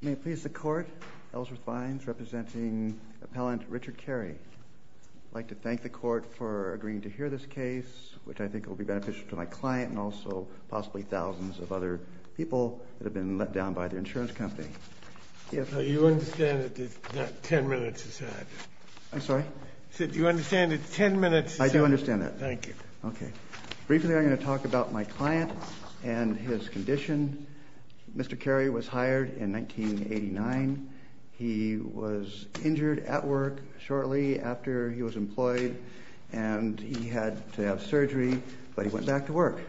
May it please the Court, Ellsworth Bynes representing Appellant Richard Carey. I'd like to thank the Court for agreeing to hear this case, which I think will be beneficial to my client and also possibly thousands of other people that have been let down by their insurance company. Do you understand that ten minutes is added? I'm sorry? I said do you understand that ten minutes is added? I do understand that. Thank you. Okay. Briefly I'm going to talk about my client and his condition. Mr. Carey was hired in 1989. He was injured at work shortly after he was employed and he had to have surgery, but he went back to work.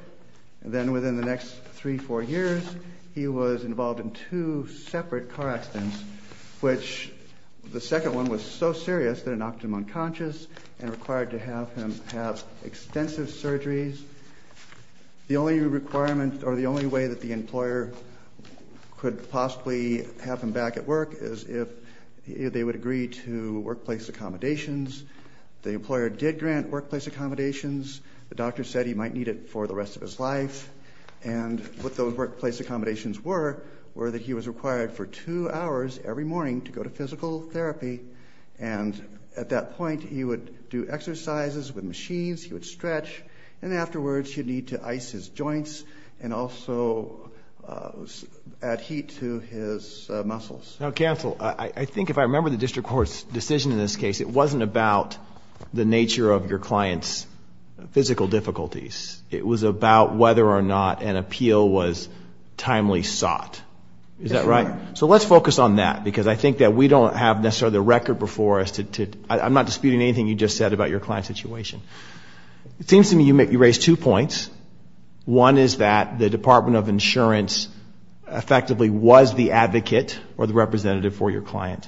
Then within the next three, four years he was involved in two separate car accidents, which the second one was so serious that it knocked him unconscious and required to have extensive surgeries. The only requirement or the only way that the employer could possibly have him back at work is if they would agree to workplace accommodations. The employer did grant workplace accommodations. The doctor said he might need it for the rest of his life and what those workplace accommodations were, were that he was required for two hours every morning to go to physical therapy and at that point he would do exercises with machines, he would stretch, and afterwards he'd need to ice his joints and also add heat to his muscles. Now counsel, I think if I remember the district court's decision in this case, it wasn't about the nature of your client's physical difficulties. It was about whether or not an appeal was timely sought. Is that right? So let's focus on that because I think that we don't have necessarily the record before us. I'm not disputing anything you just said about your client's situation. It seems to me you raised two points. One is that the Department of Insurance effectively was the advocate or the representative for your client.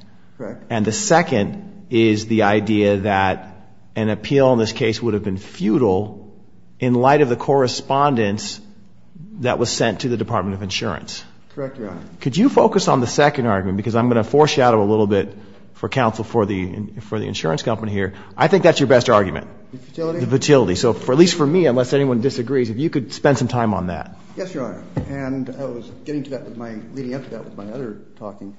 And the second is the idea that an appeal in this case would have been futile in light of the correspondence that was sent to the Department of Insurance. Correct, Your Honor. Could you focus on the second argument because I'm going to foreshadow a little bit for counsel for the insurance company here. I think that's your best argument. The futility? The futility. So at least for me, unless anyone disagrees, if you could spend some time on that. Yes, Your Honor. And I was getting to that with my, leading up to that with my other talking.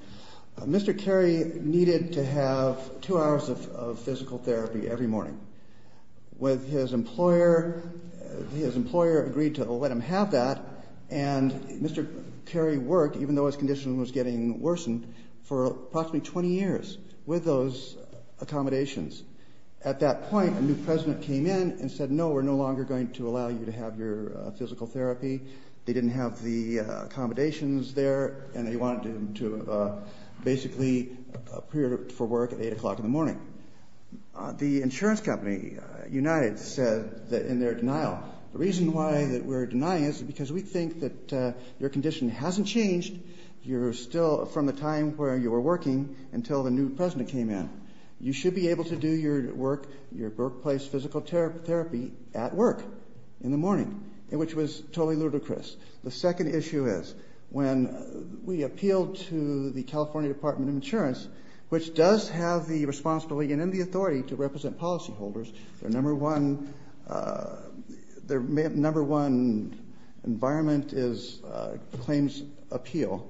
Mr. Carey needed to have two hours of physical therapy every morning. With his employer, his employer agreed to let him have that. And Mr. Carey worked, even though his condition was getting worsened, for approximately 20 years with those accommodations. At that point, a new president came in and said, no, we're no longer going to allow you to have your physical therapy. They didn't have the accommodations there and they wanted him to basically appear for work at 8 o'clock in the morning. The insurance company, United, said that in their denial, the reason why that we're denying is because we think that your condition hasn't changed. You're still from the time where you were working until the new president came in. You should be able to do your work, your workplace physical therapy at work in the morning, which was totally ludicrous. The second issue is when we appealed to the California Department of Insurance, which does have the responsibility and the authority to represent policyholders, their number one environment is claims appeal.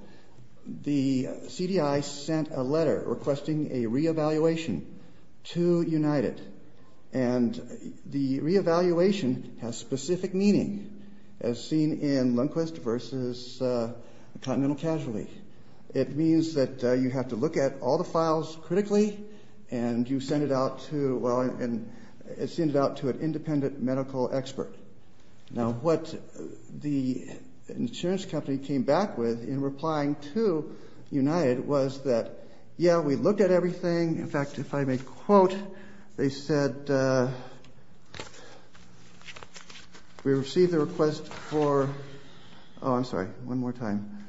The CDI sent a letter requesting a re-evaluation to United. And the re-evaluation has specific meaning, as seen in Lundquist versus Continental Casualty. It means that you have to look at all the files critically and you send it out to an independent medical expert. Now what the insurance company came back with in replying to United was that, yeah, we looked at everything. In fact, if I may quote, they said, we received the request for, oh I'm sorry, one more time,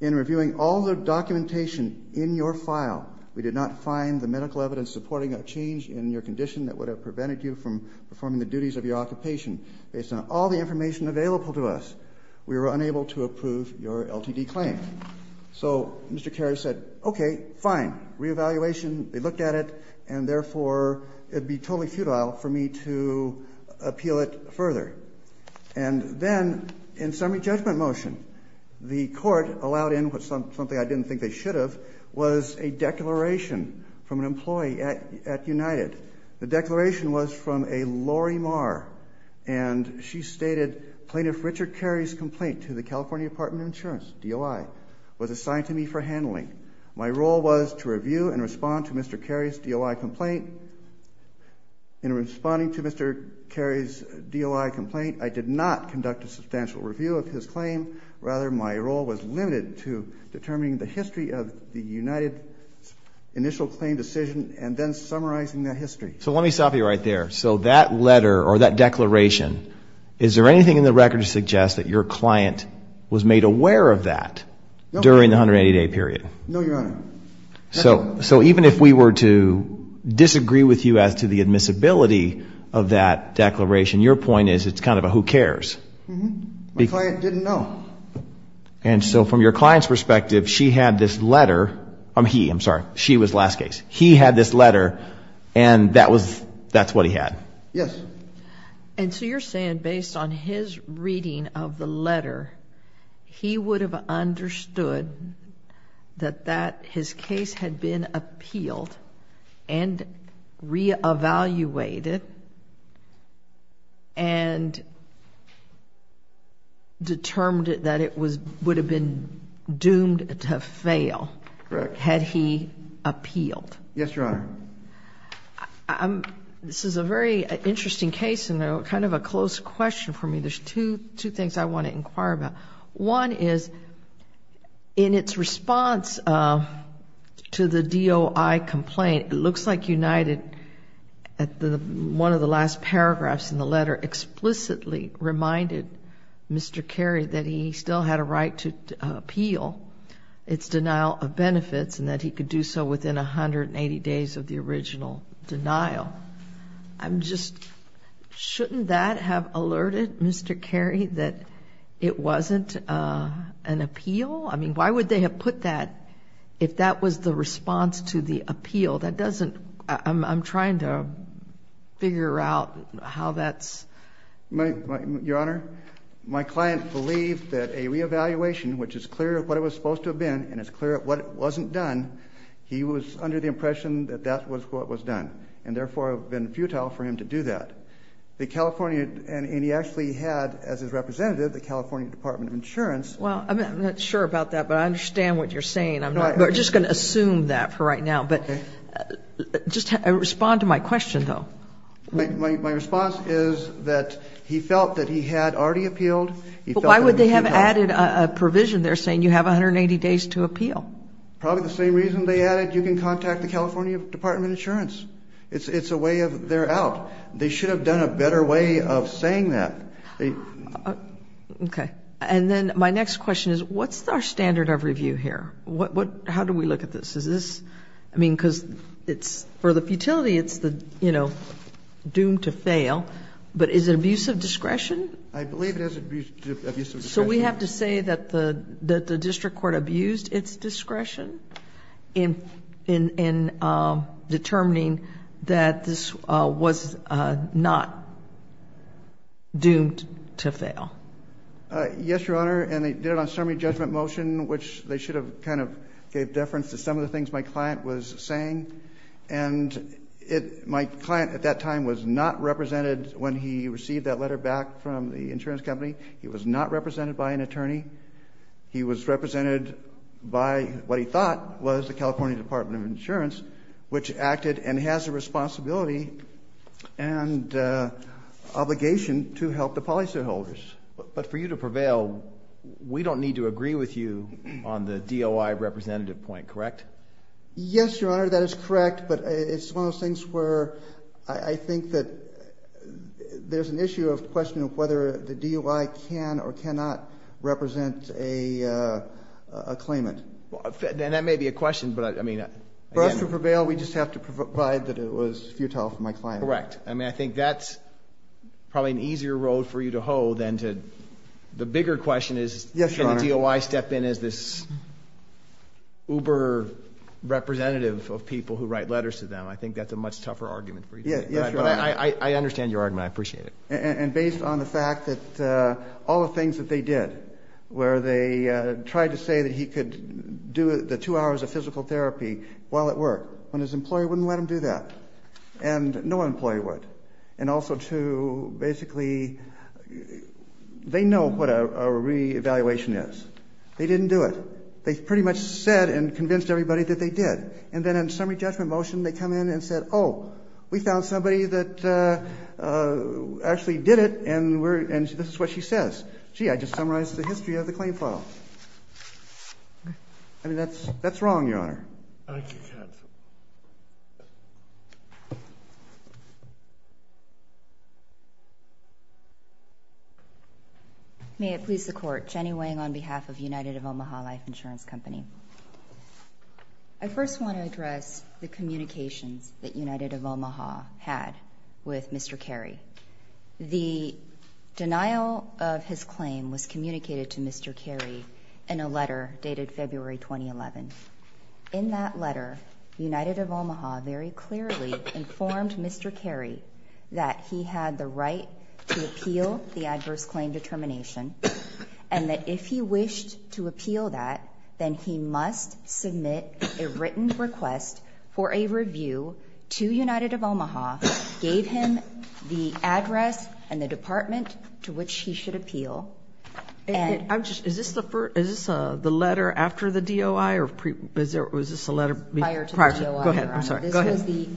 in reviewing all the documentation in your file, we did not find the medical evidence supporting a change in your condition that would have prevented you from performing the duties of your occupation. Based on all the information available to us, we were unable to approve your LTD claim. So Mr. Kerry said, okay, fine, re-evaluation, they looked at it, and therefore it'd be totally futile for me to appeal it further. And then in summary judgment motion, the court allowed in something I didn't think they should have, was a declaration from an employee at United. The declaration was from a Lori Marr, and she stated, Plaintiff Richard Kerry's complaint to the California Department of Insurance, DOI, was assigned to me for handling. My role was to review and respond to Mr. Kerry's DOI complaint. In responding to Mr. Kerry's DOI complaint, I did not conduct a substantial review of his claim. Rather, my role was limited to determining the history of the United's initial claim decision and then summarizing that history. So let me stop you right there. So that letter, or that declaration, is there anything in the record to suggest that your client was made aware of that during the 180-day period? No, Your Honor. So even if we were to disagree with you as to the admissibility of that declaration, your point is it's kind of a who cares? My client didn't know. And so from your client's perspective, she had this letter, I'm he, I'm sorry, she was last case. He had this letter, and that's what he had? Yes. And so you're saying based on his reading of the letter, he would have understood that his case had been appealed and reevaluated and determined that it would have been doomed to fail had he appealed? Yes, Your Honor. This is a very interesting case and kind of a close question for me. There's two things I want to inquire about. One is, in its response to the DOI complaint, it looks like United, one of the last paragraphs in the letter, explicitly reminded Mr. Carey that he still had a right to appeal its denial of benefits and that he could do so within 180 days of the original denial. I'm just, shouldn't that have alerted Mr. Carey that it wasn't an appeal? I mean, why would they have put that if that was the response to the appeal? That doesn't, I'm trying to figure out how that's... Your Honor, my client believed that a reevaluation, which is clear of what it was supposed to have been and is clear of what wasn't done, he was under the impression that that was what was done and therefore it would have been futile for him to do that. The California, and he actually had, as his representative, the California Department of Insurance... Well, I'm not sure about that, but I understand what you're saying. I'm not, we're just going to assume that for right now, but just respond to my question, though. My response is that he felt that he had already appealed. But why would they have added a provision there saying you have 180 days to appeal? Probably the same reason they added you can contact the California Department of Insurance. It's a way of, they're out. They should have done a better way of saying that. Okay. And then my next question is, what's our standard of review here? How do we look at this? Is this, I mean, because it's, for the futility, it's the, you know, doomed to fail, but is it abuse of discretion? I believe it is abuse of discretion. So we have to say that the district court abused its discretion in determining that this was not doomed to fail. Yes, Your Honor, and they did it on a summary judgment motion, which they should have kind of gave deference to some of the things my client was saying. And my client at that time was not represented when he received that letter back from the insurance company. He was not represented by an attorney. He was represented by what he thought was the California Department of Insurance, which acted and has a responsibility and obligation to help the policyholders. But for you to prevail, we don't need to agree with you on the DOI representative point, correct? Yes, Your Honor, that is correct. But it's one of those things where I think that there's an issue of question of whether the DOI can or cannot represent a claimant. And that may be a question, but, I mean, again — For us to prevail, we just have to provide that it was futile for my client. Correct. I mean, I think that's probably an easier road for you to hoe than to — the bigger question is — Yes, Your Honor. — can the DOI step in as this uber-representative of people who write letters to them? I think Yes, Your Honor. I understand your argument. I appreciate it. And based on the fact that all the things that they did, where they tried to say that he could do the two hours of physical therapy while at work, when his employee wouldn't let him do that, and no employee would, and also to basically — they know what a re-evaluation is. They didn't do it. They pretty much said and convinced everybody that they did. And then in summary judgment motion, they come in and said, oh, we found somebody that actually did it, and this is what she says. Gee, I just summarized the history of the claim file. I mean, that's wrong, Your Honor. Thank you, counsel. May it please the Court. Jenny Wang on behalf of United of Omaha Life Insurance Company. I first want to address the communications that United of Omaha had with Mr. Carey. The denial of his claim was communicated to Mr. Carey in a letter dated February 2011. In that letter, United of Omaha very clearly informed Mr. Carey that he had the right to appeal under the plan. He must submit a written request for a review to United of Omaha, gave him the address and the department to which he should appeal, and — I'm just — is this the letter after the DOI, or was this a letter prior to — Prior to the DOI, Your Honor. Go ahead. I'm sorry. Go ahead. This was the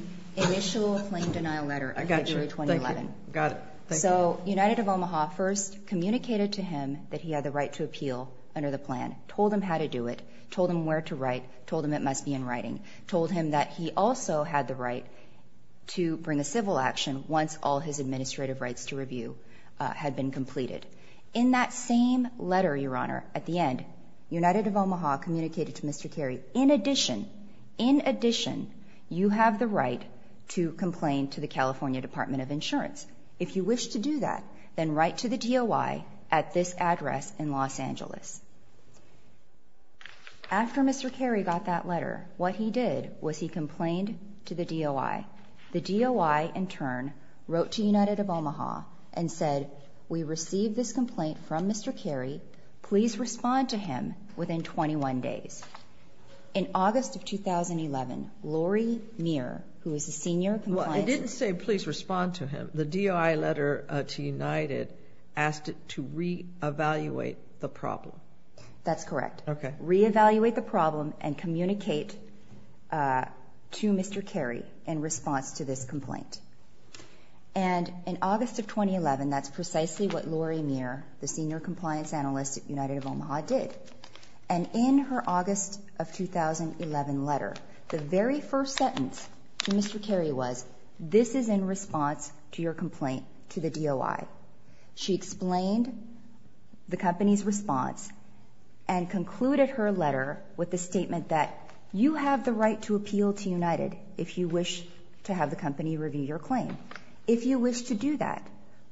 initial claim denial letter in February 2011. I got you. Thank you. Got it. Thank you. So United of Omaha first communicated to him that he had the right to appeal under the plan, told him where to write, told him it must be in writing, told him that he also had the right to bring a civil action once all his administrative rights to review had been completed. In that same letter, Your Honor, at the end, United of Omaha communicated to Mr. Carey, in addition, in addition, you have the right to complain to the California Department of Insurance. If you wish to do that, then write to the DOI at this address in Los Angeles. After Mr. Carey got that letter, what he did was he complained to the DOI. The DOI, in turn, wrote to United of Omaha and said, we received this complaint from Mr. Carey. Please respond to him within 21 days. In August of 2011, Lori Meir, who is a senior — Well, I didn't say please respond to him. The DOI letter to United asked it to re-evaluate the problem. That's correct. Re-evaluate the problem and communicate to Mr. Carey in response to this complaint. In August of 2011, that's precisely what Lori Meir, the senior compliance analyst at United of Omaha, did. In her August of 2011 letter, the very first sentence to Mr. Carey was, this is in response to your complaint to the DOI. She explained the company's response and concluded her letter with the statement that you have the right to appeal to United if you wish to have the company review your claim. If you wish to do that,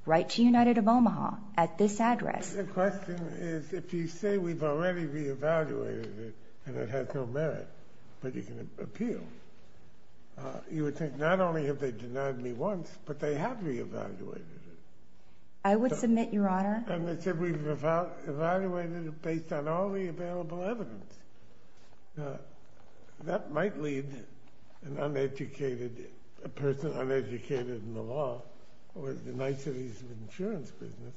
write to United of Omaha at this address. The question is, if you say we've already re-evaluated it and it has no merit, but you can appeal, you would think not only have they denied me once, but they have re-evaluated it. I would submit, Your Honor. And they said we've evaluated it based on all the available evidence. Now, that might lead an uneducated person, uneducated in the law, or in the niceties of the insurance business,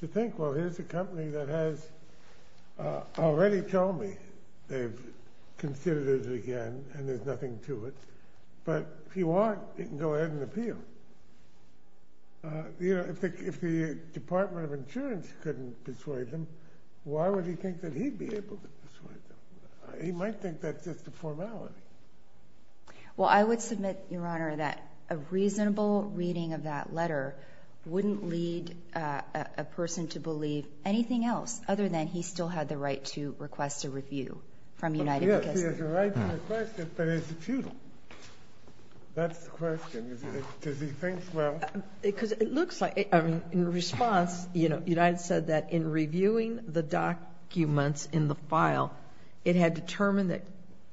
to think, well, here's a company that has already told me that they've considered it again and there's nothing to it. But if you want, you can go ahead and appeal. You know, if the Department of Insurance couldn't persuade them, why would he think that he'd be able to persuade them? He might think that's just a formality. Well, I would submit, Your Honor, that a reasonable reading of that letter wouldn't lead a person to believe anything else other than he still had the right to request a review from United. Yes, he has the right to request it, but is it futile? That's the question. Does he think, well... Because it looks like, I mean, in response, you know, United said that in reviewing the documents in the file, it had determined that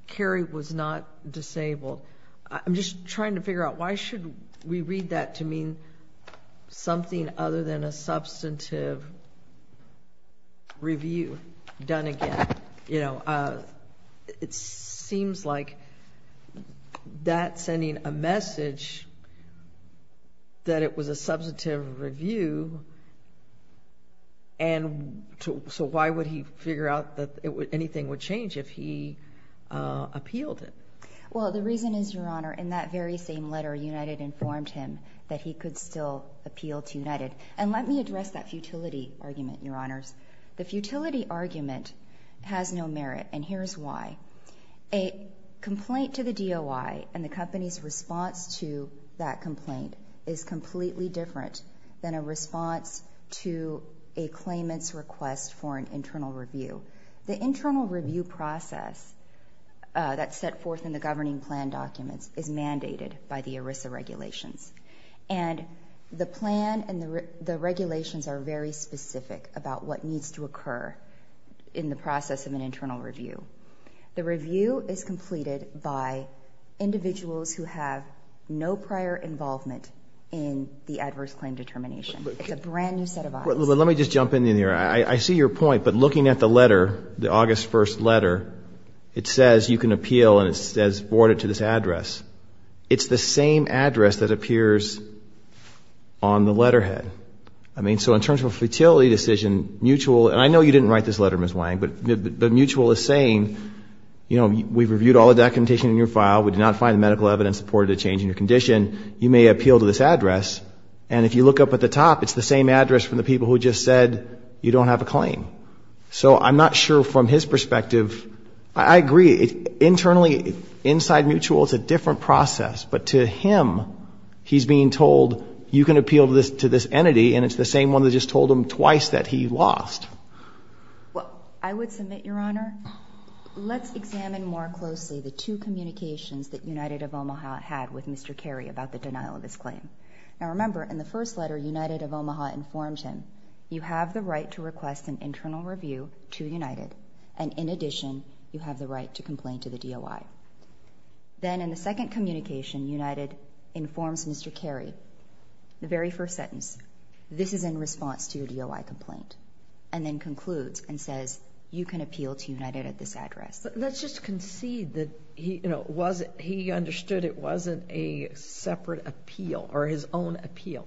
Carrie was not disabled. I'm just trying to figure out why should we read that to mean something other than a substantive review done again? You know, it seems like that's sending a message that it was a substantive review, and so why would he figure out that anything would change if he appealed it? Well, the reason is, Your Honor, in that very same letter, United informed him that he could still appeal to United. And let me address that futility argument, Your Honors. The futility argument has no merit, and here's why. A complaint to the DOI and the company's response to that complaint is completely different than a response to a claimant's request for an internal review. The internal review process that's set forth in the governing plan documents is mandated by the ERISA regulations. And the plan and the regulations are very specific about what needs to occur in the process of an internal review. The review is completed by individuals who have no prior involvement in the adverse claim determination. It's a brand new set of eyes. Let me just jump in here. I see your point, but looking at the letter, the August 1st letter, it says you can appeal and it says forward it to this address. It's the same address that appears on the letterhead. I mean, so in terms of a futility decision, Mutual, and I know you didn't write this letter, Ms. Wang, but Mutual is saying, you know, we've reviewed all the documentation in your file. We did not find the medical evidence supporting the change in your condition. You may appeal to this address. And if you look up at the top, it's the same address from the people who just said you don't have a claim. So I'm not sure from his perspective, I agree. Internally, inside Mutual, it's a different process. But to him, he's being told, you can appeal to this entity, and it's the same one that just told him twice that he lost. Well, I would submit, Your Honor, let's examine more closely the two communications that United of Omaha had with Mr. Carey about the denial of his claim. Now remember, in the first letter, United of Omaha informed him, you have the right to request an internal review to United. And in addition, you have the right to complain to the DOI. Then in the second communication, United informs Mr. Carey, the very first sentence, this is in response to your DOI complaint. And then concludes and says, you can appeal to United at this address. But let's just concede that he, you know, he understood it wasn't a separate appeal or his own appeal.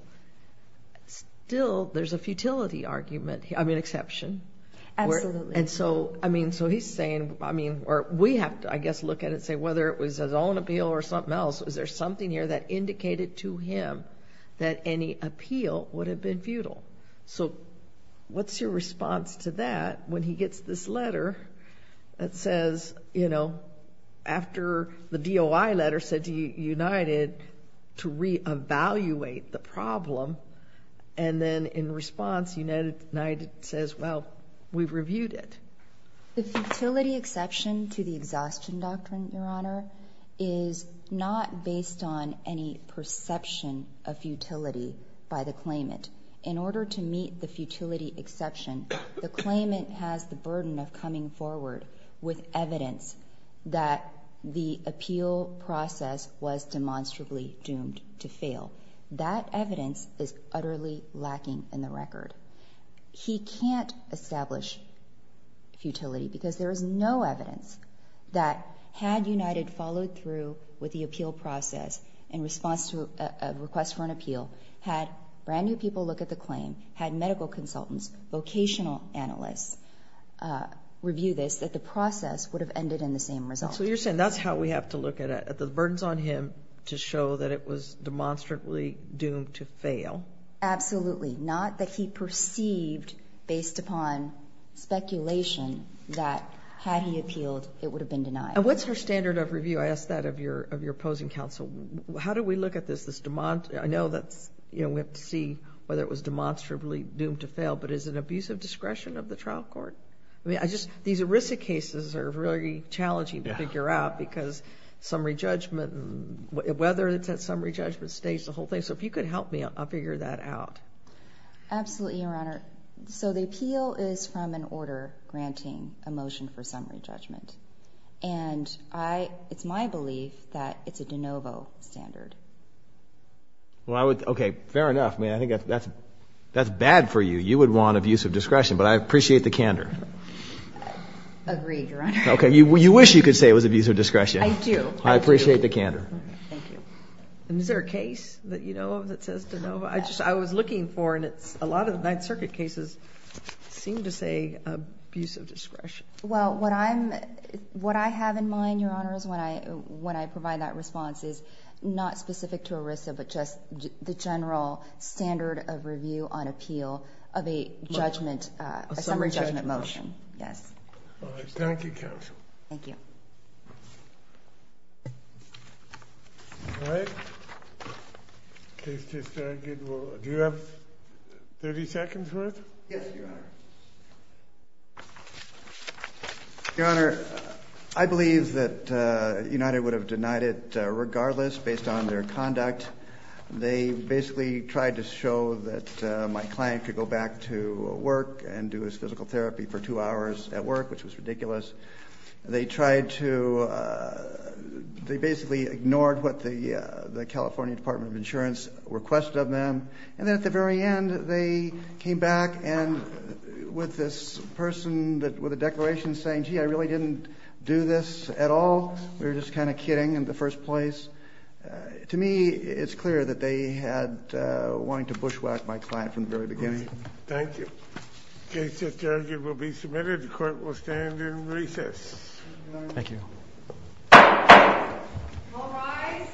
Still, there's a futility argument, I mean exception. Absolutely. And so, I mean, so he's saying, I mean, or we have to, I guess, look at it and say whether it was his own appeal or something else. Is there something here that indicated to him that any appeal would have been futile? So what's your response to that when he gets this letter that says, you know, after the DOI letter said to United to re-evaluate the problem? And then in response, United says, well, we've reviewed it. The futility exception to the exhaustion doctrine, Your Honor, is not based on any perception of futility by the claimant. In order to meet the futility exception, the claimant has the burden of coming forward with evidence that the appeal process was demonstrably doomed to fail. That evidence is utterly lacking in the record. He can't establish futility because there is no evidence that had United followed through with the appeal process in response to a request for an appeal, had brand new people look at the claim, had medical consultants, vocational analysts, review this, that the process would have ended in the same result. So you're saying that's how we have to look at it. The burden's on him to show that it was demonstrably doomed to fail. Absolutely. Not that he perceived, based upon speculation, that had he appealed, it would have been denied. And what's her standard of review? I asked that of your opposing counsel. How do we look at this? I know we have to see whether it was demonstrably doomed to fail, but is it an abuse of discretion of the trial court? These ERISA cases are very challenging to figure out because summary judgment, whether it's at summary judgment stage, the whole thing. So if you could help me, I'll figure that out. Absolutely, Your Honor. So the appeal is from an order granting a motion for summary judgment. And I, it's my belief that it's a de novo standard. Well, I would, okay, fair enough. I mean, I think that's bad for you. You would want abuse of discretion, but I appreciate the candor. Agreed, Your Honor. Okay, you wish you could say it was abuse of discretion. I do. I appreciate the candor. Thank you. And is there a case that you know of that says de novo? I just, I was looking for, and it's a lot of the Ninth Circuit cases seem to say abuse of discretion. Well, what I'm, what I have in mind, Your Honor, is when I, when I provide that response is not specific to ERISA, but just the general standard of review on appeal of a judgment, a summary judgment motion. Yes. Thank you, counsel. Thank you. All right. Case to start, do you have 30 seconds for it? Yes, Your Honor. Your Honor, I believe that United would have denied it regardless based on their conduct. They basically tried to show that my client could go back to work and do his physical therapy for two hours at work, which was ridiculous. They tried to, they basically ignored what the California Department of Insurance requested of them. And then at the very end, they came back and with this person with a declaration saying, gee, I really didn't do this at all. We were just kind of kidding in the first place. To me, it's clear that they had wanted to bushwhack my client from the very beginning. Thank you. The case that's argued will be submitted. The court will stand in recess. Thank you. All rise.